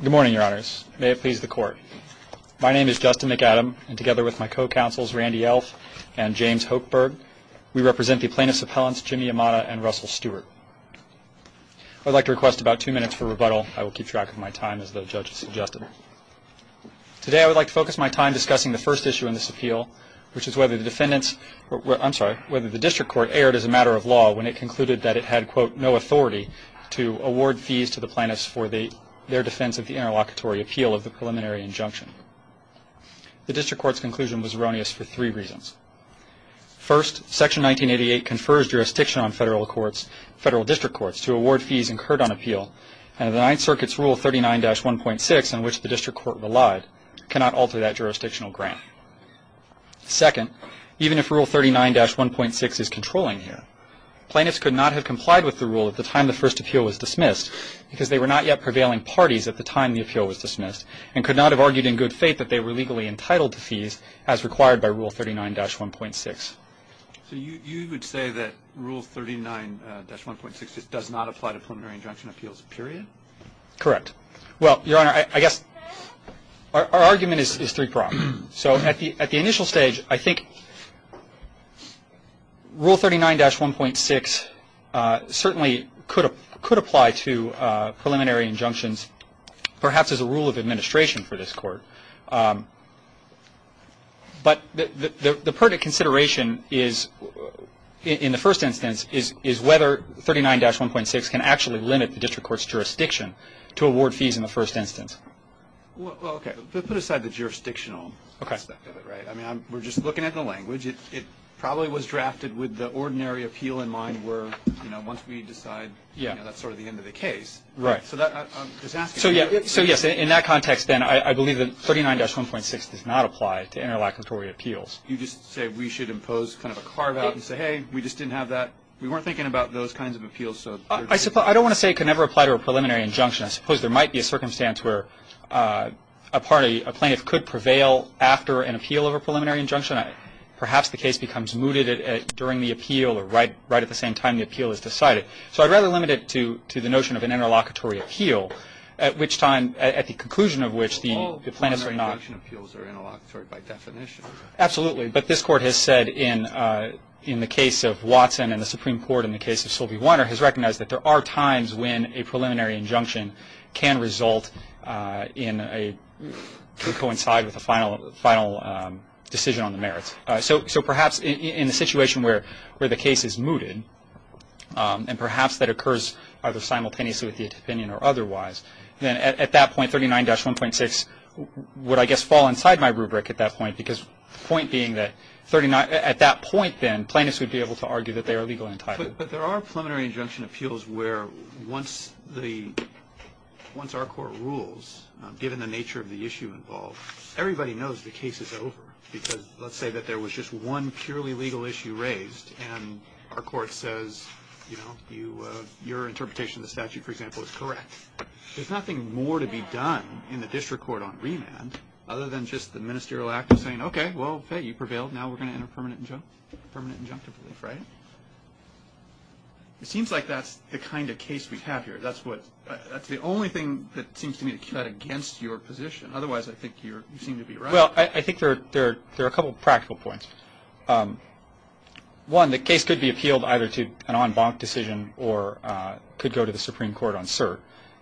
Good morning, your honors. May it please the court. My name is Justin McAdam, and together with my co-counsels Randy Elf and James Hochberg, we represent the plaintiffs' appellants Jimmy Yamada and Russell Stewart. I would like to request about two minutes for rebuttal. I will keep track of my time as the judge has suggested. Today I would like to focus my time discussing the first issue in this appeal, which is whether the defendant's I'm sorry, whether the district court erred as a matter of law when it concluded that it had, quote, no authority to award fees to the plaintiffs for their defense of the interlocutory appeal of the preliminary injunction. The district court's conclusion was erroneous for three reasons. First, Section 1988 confers jurisdiction on federal courts, federal district courts, to award fees incurred on appeal, and the Ninth Circuit's Rule 39-1.6, in which the district court relied, cannot alter that jurisdictional grant. Second, even if Rule 39-1.6 is controlling here, plaintiffs could not have complied with the rule at the time the first appeal was dismissed because they were not yet prevailing parties at the time the appeal was dismissed and could not have argued in good faith that they were legally entitled to fees as required by Rule 39-1.6. So you would say that Rule 39-1.6 does not apply to preliminary injunction appeals, period? Correct. Well, Your Honor, I guess our argument is three-pronged. So at the initial stage, I think Rule 39-1.6 certainly could apply to preliminary injunctions, perhaps as a rule of administration for this Court. But the pertinent consideration is, in the first instance, is whether 39-1.6 can actually limit the district court's jurisdiction to award fees in the first instance. Well, okay, but put aside the jurisdictional aspect of it, right? I mean, we're just looking at the language. It probably was drafted with the ordinary appeal in mind where, you know, once we decide, you know, that's sort of the end of the case. Right. So I'm just asking. So, yes, in that context, then, I believe that 39-1.6 does not apply to interlocutory appeals. You just say we should impose kind of a carve-out and say, hey, we just didn't have that. We weren't thinking about those kinds of appeals. I don't want to say it could never apply to a preliminary injunction. I suppose there might be a circumstance where a plaintiff could prevail after an appeal of a preliminary injunction. Perhaps the case becomes mooted during the appeal or right at the same time the appeal is decided. So I'd rather limit it to the notion of an interlocutory appeal, at which time, at the conclusion of which the plaintiffs are not. Well, all preliminary injunction appeals are interlocutory by definition. Absolutely. But this Court has said in the case of Watson and the Supreme Court in the case of Sylvie Weiner, has recognized that there are times when a preliminary injunction can result in a, can coincide with a final decision on the merits. So perhaps in a situation where the case is mooted, and perhaps that occurs either simultaneously with the opinion or otherwise, then at that point, 39-1.6 would, I guess, fall inside my rubric at that point, because the point being that at that point, then, plaintiffs would be able to argue that they are legally entitled. But there are preliminary injunction appeals where once the, once our Court rules, given the nature of the issue involved, everybody knows the case is over. Because let's say that there was just one purely legal issue raised, and our Court says, you know, your interpretation of the statute, for example, is correct. There's nothing more to be done in the district court on remand, other than just the ministerial act of saying, okay, well, hey, you prevailed. Now we're going to enter permanent injunctive relief, right? It seems like that's the kind of case we have here. That's the only thing that seems to me to cut against your position. Otherwise, I think you seem to be right. Well, I think there are a couple of practical points. One, the case could be appealed either to an en banc decision or could go to the Supreme Court on cert,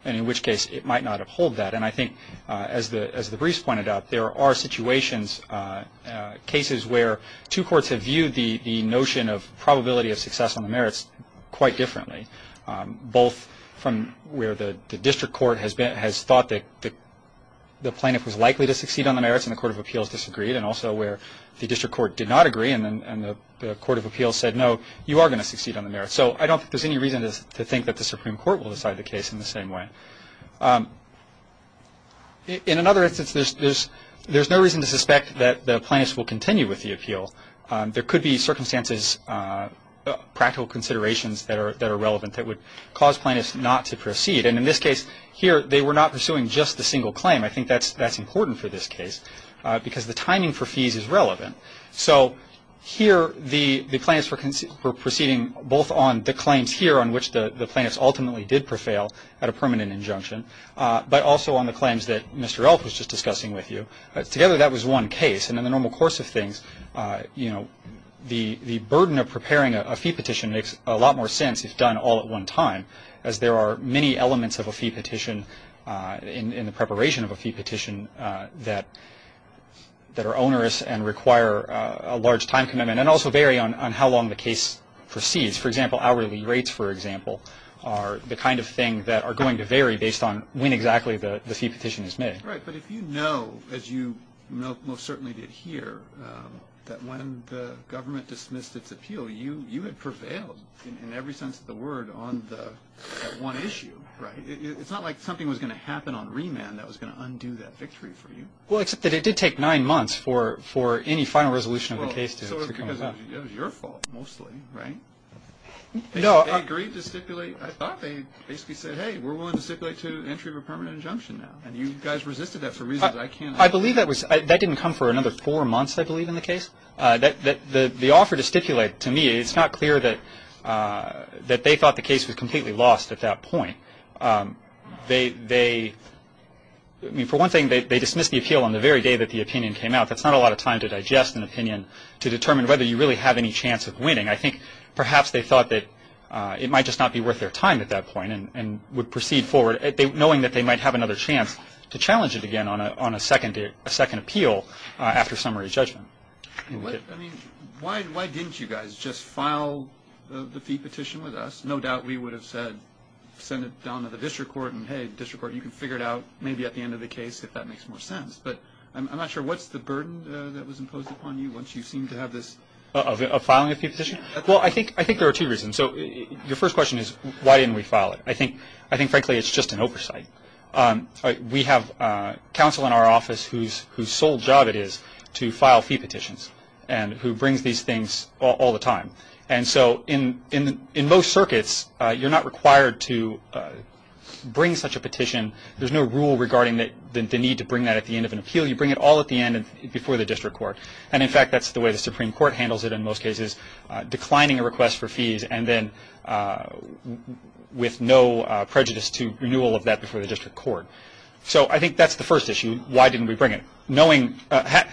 and in which case it might not uphold that. And I think, as the briefs pointed out, there are situations, cases where two courts have viewed the notion of probability of success on the merits quite differently, both from where the district court has thought that the plaintiff was likely to succeed on the merits and the Court of Appeals disagreed, and also where the district court did not agree and the Court of Appeals said, no, you are going to succeed on the merits. So I don't think there's any reason to think that the Supreme Court will decide the case in the same way. In another instance, there's no reason to suspect that a plaintiff will continue with the appeal. There could be circumstances, practical considerations that are relevant that would cause plaintiffs not to proceed. And in this case here, they were not pursuing just the single claim. I think that's important for this case because the timing for fees is relevant. So here, the plaintiffs were proceeding both on the claims here, on which the plaintiffs ultimately did prevail at a permanent injunction, but also on the claims that Mr. Elk was just discussing with you. Together, that was one case. And in the normal course of things, you know, the burden of preparing a fee petition makes a lot more sense if done all at one time, as there are many elements of a fee petition in the preparation of a fee petition that are onerous and require a large time commitment and also vary on how long the case proceeds. For example, hourly rates, for example, are the kind of thing that are going to vary based on when exactly the fee petition is made. Right, but if you know, as you most certainly did here, that when the government dismissed its appeal, you had prevailed in every sense of the word on that one issue. Right. It's not like something was going to happen on remand that was going to undo that victory for you. Well, except that it did take nine months for any final resolution of the case to come about. Well, sort of because it was your fault mostly, right? No. They agreed to stipulate. I thought they basically said, hey, we're willing to stipulate to the entry of a permanent injunction now. And you guys resisted that for reasons I can't understand. I believe that didn't come for another four months, I believe, in the case. The offer to stipulate, to me, it's not clear that they thought the case was completely lost at that point. They, for one thing, they dismissed the appeal on the very day that the opinion came out. That's not a lot of time to digest an opinion to determine whether you really have any chance of winning. I think perhaps they thought that it might just not be worth their time at that point and would proceed forward, knowing that they might have another chance to challenge it again on a second appeal after summary judgment. I mean, why didn't you guys just file the fee petition with us? No doubt we would have said send it down to the district court and, hey, district court, you can figure it out maybe at the end of the case if that makes more sense. But I'm not sure what's the burden that was imposed upon you once you seem to have this. Of filing a fee petition? Well, I think there are two reasons. So your first question is why didn't we file it? I think, frankly, it's just an oversight. We have counsel in our office whose sole job it is to file fee petitions and who brings these things all the time. And so in most circuits, you're not required to bring such a petition. There's no rule regarding the need to bring that at the end of an appeal. You bring it all at the end before the district court. And, in fact, that's the way the Supreme Court handles it in most cases, declining a request for fees and then with no prejudice to renewal of that before the district court. So I think that's the first issue, why didn't we bring it.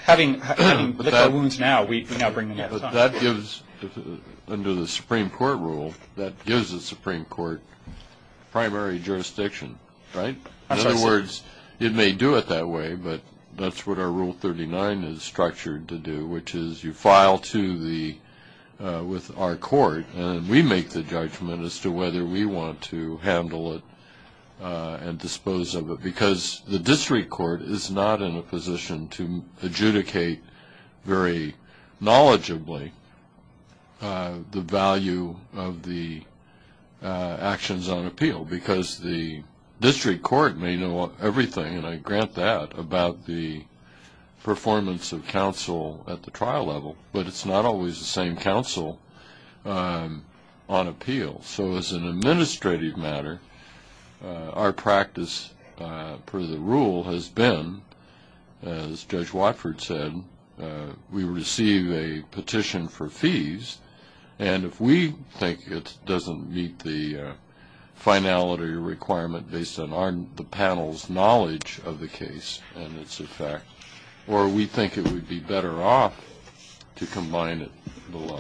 Having licked our wounds now, we now bring them all the time. Yeah, but that gives, under the Supreme Court rule, that gives the Supreme Court primary jurisdiction, right? In other words, it may do it that way, but that's what our Rule 39 is structured to do, which is you file with our court and we make the judgment as to whether we want to handle it and dispose of it, because the district court is not in a position to adjudicate very knowledgeably the value of the actions on appeal, because the district court may know everything, and I grant that, about the performance of counsel at the trial level, but it's not always the same counsel on appeal. So as an administrative matter, our practice per the rule has been, as Judge Watford said, we receive a petition for fees, and if we think it doesn't meet the finality requirement based on the panel's knowledge of the case and its effect, or we think it would be better off to combine it below.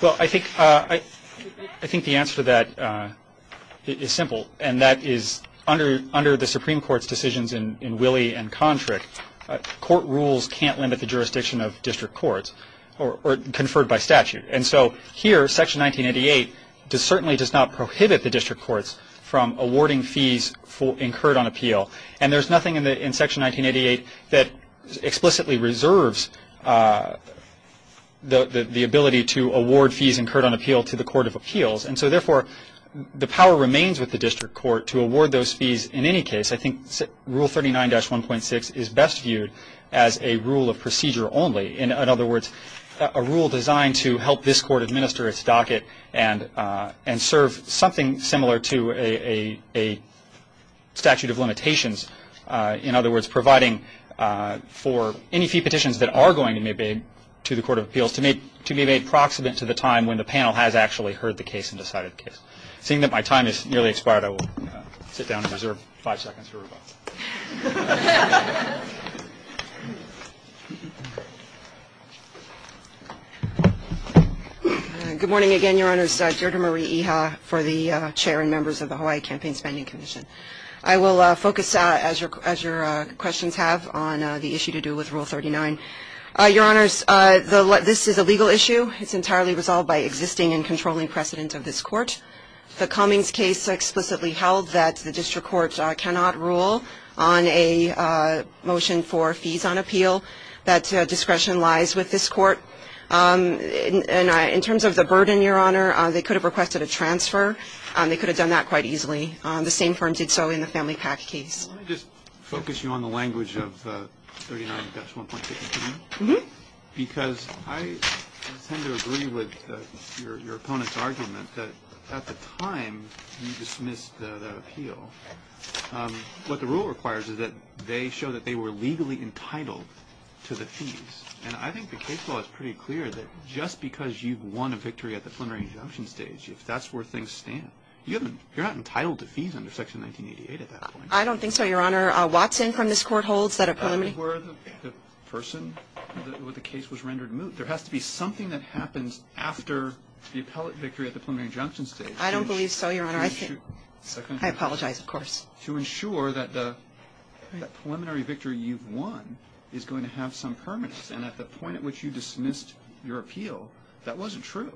Well, I think the answer to that is simple, and that is under the Supreme Court's decisions in Willey and Kontrick, court rules can't limit the jurisdiction of district courts, or conferred by statute. And so here, Section 1988 certainly does not prohibit the district courts from awarding fees incurred on appeal, and there's nothing in Section 1988 that explicitly reserves the ability to award fees incurred on appeal to the court of appeals, and so therefore, the power remains with the district court to award those fees in any case. I think Rule 39-1.6 is best viewed as a rule of procedure only. In other words, a rule designed to help this court administer its docket and serve something similar to a statute of limitations. In other words, providing for any fee petitions that are going to be made to the court of appeals, to be made proximate to the time when the panel has actually heard the case and decided the case. Seeing that my time has nearly expired, I will sit down and reserve five seconds for rebuttal. Good morning again, Your Honors. Deirdre Marie Iha for the chair and members of the Hawaii Campaign Spending Commission. I will focus, as your questions have, on the issue to do with Rule 39. Your Honors, this is a legal issue. It's entirely resolved by existing and controlling precedent of this court. The Cummings case explicitly held that the district court cannot rule on a motion for fees on appeal. That discretion lies with this court. In terms of the burden, Your Honor, they could have requested a transfer. They could have done that quite easily. The same firm did so in the Family PAC case. Let me just focus you on the language of 39-1.62. Because I tend to agree with your opponent's argument that at the time you dismissed the appeal, what the rule requires is that they show that they were legally entitled to the fees. And I think the case law is pretty clear that just because you've won a victory at the plenary injunction stage, if that's where things stand, you're not entitled to fees under Section 1988 at that point. I don't think so, Your Honor. Watson from this court holds that a preliminary... That's where the person with the case was rendered moot. There has to be something that happens after the appellate victory at the preliminary injunction stage. I don't believe so, Your Honor. I apologize, of course. To ensure that the preliminary victory you've won is going to have some permanence. And at the point at which you dismissed your appeal, that wasn't true.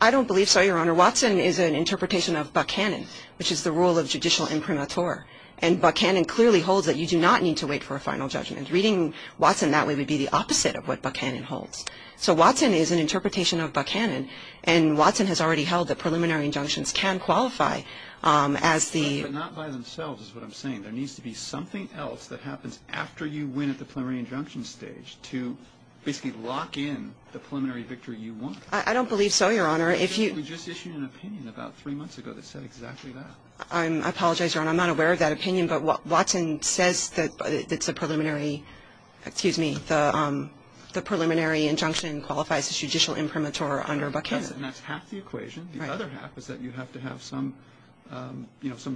I don't believe so, Your Honor. Your Honor, Watson is an interpretation of Buckhannon, which is the rule of judicial imprimatur. And Buckhannon clearly holds that you do not need to wait for a final judgment. Reading Watson that way would be the opposite of what Buckhannon holds. So Watson is an interpretation of Buckhannon. And Watson has already held that preliminary injunctions can qualify as the... But not by themselves is what I'm saying. There needs to be something else that happens after you win at the preliminary injunction stage to basically lock in the preliminary victory you won. I don't believe so, Your Honor. We just issued an opinion about three months ago that said exactly that. I apologize, Your Honor. I'm not aware of that opinion. But Watson says that the preliminary injunction qualifies as judicial imprimatur under Buckhannon. And that's half the equation. Right. The other half is that you have to have some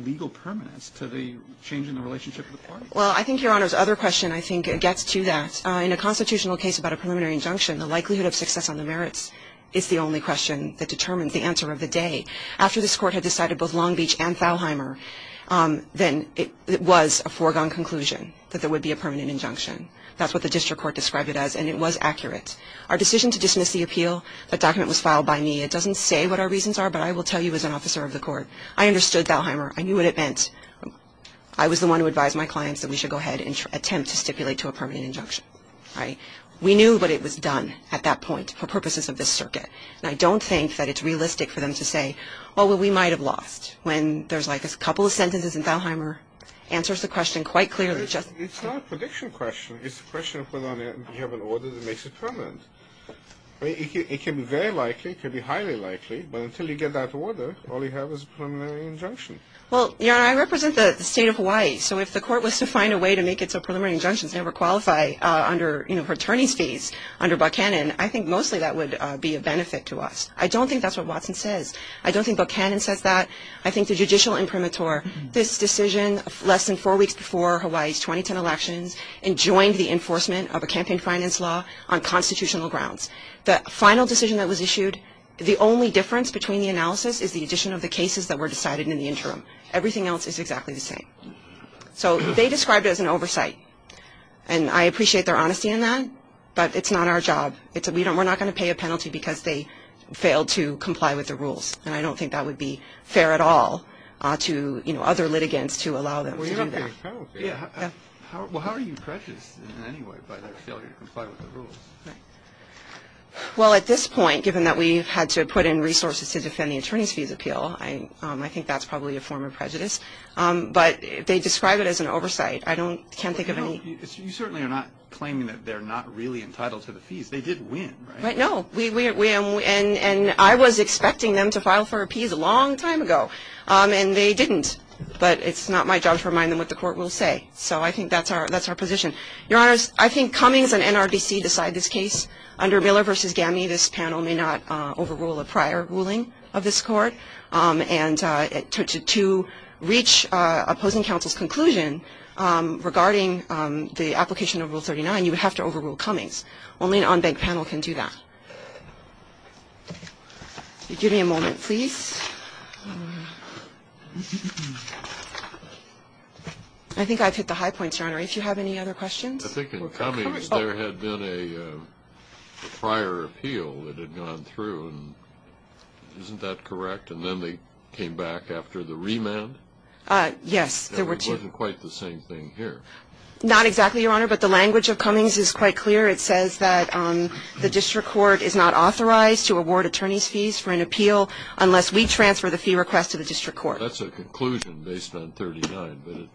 legal permanence to the change in the relationship with the parties. Well, I think Your Honor's other question I think gets to that. In a constitutional case about a preliminary injunction, the likelihood of success on the merits is the only question that determines the answer of the day. After this Court had decided both Long Beach and Thalheimer, then it was a foregone conclusion that there would be a permanent injunction. That's what the district court described it as. And it was accurate. Our decision to dismiss the appeal, that document was filed by me. It doesn't say what our reasons are, but I will tell you as an officer of the court, I understood Thalheimer. I knew what it meant. I was the one who advised my clients that we should go ahead and attempt to stipulate to a permanent injunction. Right. We knew what it was done at that point for purposes of this circuit. And I don't think that it's realistic for them to say, oh, well, we might have lost, when there's like a couple of sentences and Thalheimer answers the question quite clearly. It's not a prediction question. It's a question of whether or not you have an order that makes it permanent. It can be very likely, it can be highly likely, but until you get that order, all you have is a preliminary injunction. Well, Your Honor, I represent the state of Hawaii, so if the court was to find a way to make it so preliminary injunctions never qualify under attorney's fees under Buckhannon, I think mostly that would be a benefit to us. I don't think that's what Watson says. I don't think Buckhannon says that. I think the judicial imprimatur, this decision less than four weeks before Hawaii's 2010 elections, enjoined the enforcement of a campaign finance law on constitutional grounds. The final decision that was issued, the only difference between the analysis is the addition of the cases that were decided in the interim. Everything else is exactly the same. So they described it as an oversight, and I appreciate their honesty in that, but it's not our job. We're not going to pay a penalty because they failed to comply with the rules, and I don't think that would be fair at all to other litigants to allow them to do that. Well, you don't pay a penalty. Well, how are you prejudiced in any way by their failure to comply with the rules? Well, at this point, given that we've had to put in resources to defend the attorney's fees appeal, I think that's probably a form of prejudice. But they describe it as an oversight. I can't think of any. You certainly are not claiming that they're not really entitled to the fees. They did win, right? No, and I was expecting them to file for appease a long time ago, and they didn't. But it's not my job to remind them what the court will say. So I think that's our position. Your Honors, I think Cummings and NRDC decide this case. Under Miller v. Gaminey, this panel may not overrule a prior ruling of this court. And to reach opposing counsel's conclusion regarding the application of Rule 39, you would have to overrule Cummings. Only an unbanked panel can do that. Give me a moment, please. I think I've hit the high points, Your Honor. If you have any other questions. I think in Cummings there had been a prior appeal that had gone through, and isn't that correct? And then they came back after the remand? Yes, there were two. It wasn't quite the same thing here. Not exactly, Your Honor, but the language of Cummings is quite clear. It says that the district court is not authorized to award attorney's fees for an appeal unless we transfer the fee request to the district court. That's a conclusion based on 39,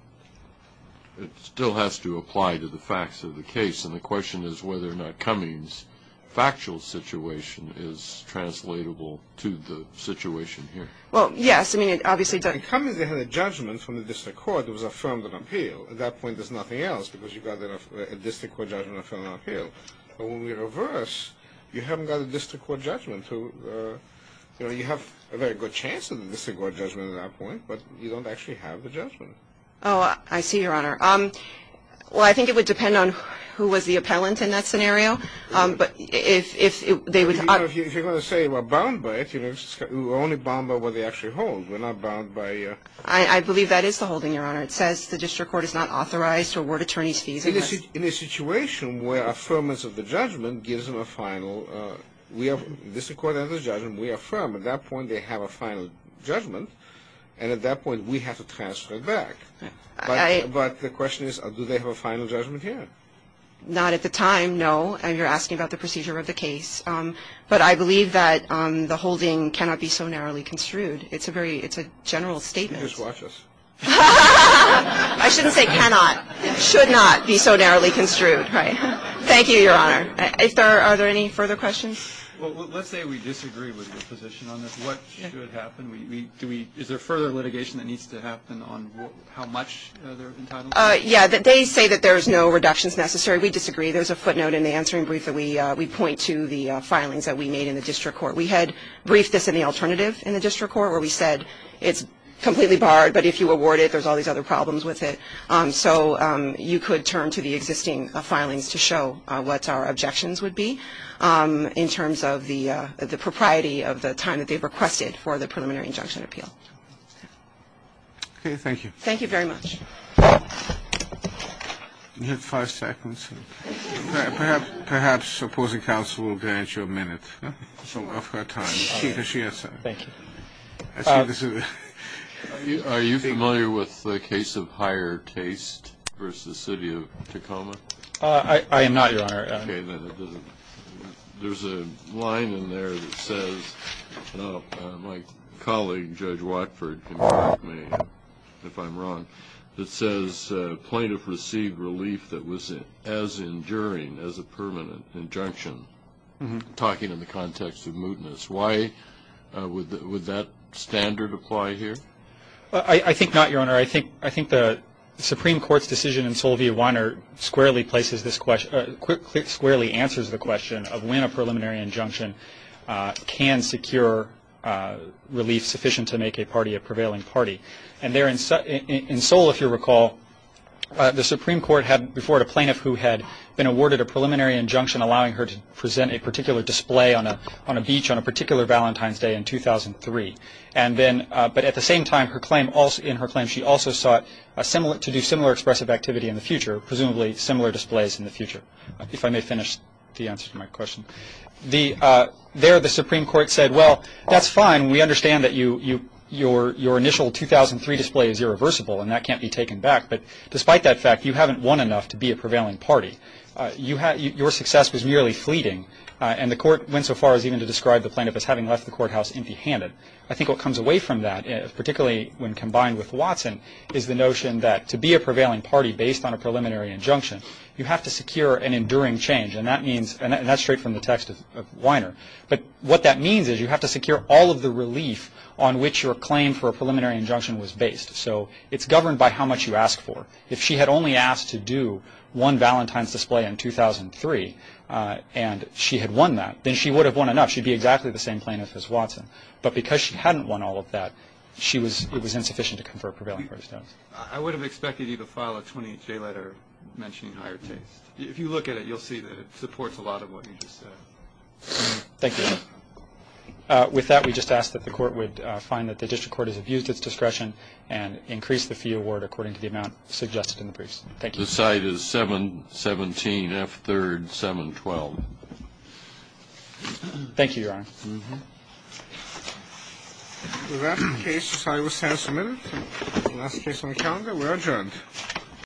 but it still has to apply to the facts of the case. And the question is whether or not Cummings' factual situation is translatable to the situation here. Well, yes. I mean, it obviously does. In Cummings they had a judgment from the district court that was affirmed on appeal. At that point there's nothing else because you've got a district court judgment on appeal. But when we reverse, you haven't got a district court judgment. You know, you have a very good chance of a district court judgment at that point, but you don't actually have the judgment. Oh, I see, Your Honor. Well, I think it would depend on who was the appellant in that scenario. But if they would – You know, if you're going to say we're bound by it, you know, we're only bound by what they actually hold. We're not bound by – I believe that is the holding, Your Honor. It says the district court is not authorized to award attorney's fees unless – Well, the district court has a judgment. We affirm. At that point they have a final judgment. And at that point we have to transfer it back. But the question is, do they have a final judgment here? Not at the time, no. You're asking about the procedure of the case. But I believe that the holding cannot be so narrowly construed. It's a very – it's a general statement. You can just watch us. I shouldn't say cannot. It should not be so narrowly construed, right. Thank you, Your Honor. Are there any further questions? Well, let's say we disagree with your position on this. What should happen? Do we – is there further litigation that needs to happen on how much they're entitled to? Yeah, they say that there's no reductions necessary. We disagree. There's a footnote in the answering brief that we point to the filings that we made in the district court. We had briefed this in the alternative in the district court where we said it's completely barred, but if you award it there's all these other problems with it. So you could turn to the existing filings to show what our objections would be in terms of the propriety of the time that they've requested for the preliminary injunction appeal. Okay, thank you. Thank you very much. You have five seconds. Perhaps opposing counsel will grant you a minute of her time. Thank you. Are you familiar with the case of higher taste versus the city of Tacoma? I am not, Your Honor. Okay, then it doesn't – there's a line in there that says – no, my colleague, Judge Watford, can correct me if I'm wrong – that says plaintiff received relief that was as enduring as a permanent injunction. I'm talking in the context of mootness. Why would that standard apply here? I think not, Your Honor. I think the Supreme Court's decision in Sol v. Weiner squarely places this – squarely answers the question of when a preliminary injunction can secure relief sufficient to make a party a prevailing party. And there in Sol, if you recall, the Supreme Court had before it a plaintiff who had been awarded a preliminary injunction allowing her to present a particular display on a beach on a particular Valentine's Day in 2003. But at the same time, in her claim, she also sought to do similar expressive activity in the future, presumably similar displays in the future, if I may finish the answer to my question. There the Supreme Court said, well, that's fine. We understand that your initial 2003 display is irreversible and that can't be taken back. But despite that fact, you haven't won enough to be a prevailing party. Your success was merely fleeting, and the Court went so far as even to describe the plaintiff as having left the courthouse empty-handed. I think what comes away from that, particularly when combined with Watson, is the notion that to be a prevailing party based on a preliminary injunction, you have to secure an enduring change. And that means – and that's straight from the text of Weiner. But what that means is you have to secure all of the relief on which your claim for a preliminary injunction was based. So it's governed by how much you ask for. If she had only asked to do one Valentine's display in 2003 and she had won that, then she would have won enough. She'd be exactly the same plaintiff as Watson. But because she hadn't won all of that, it was insufficient to confer a prevailing party status. I would have expected you to file a 28-day letter mentioning higher taste. If you look at it, you'll see that it supports a lot of what you just said. Thank you. With that, we just ask that the Court would find that the district court has abused its discretion and increase the fee award according to the amount suggested in the briefs. Thank you. The side is 717F3-712. Thank you, Your Honor. With that, the case is signed. We're adjourned.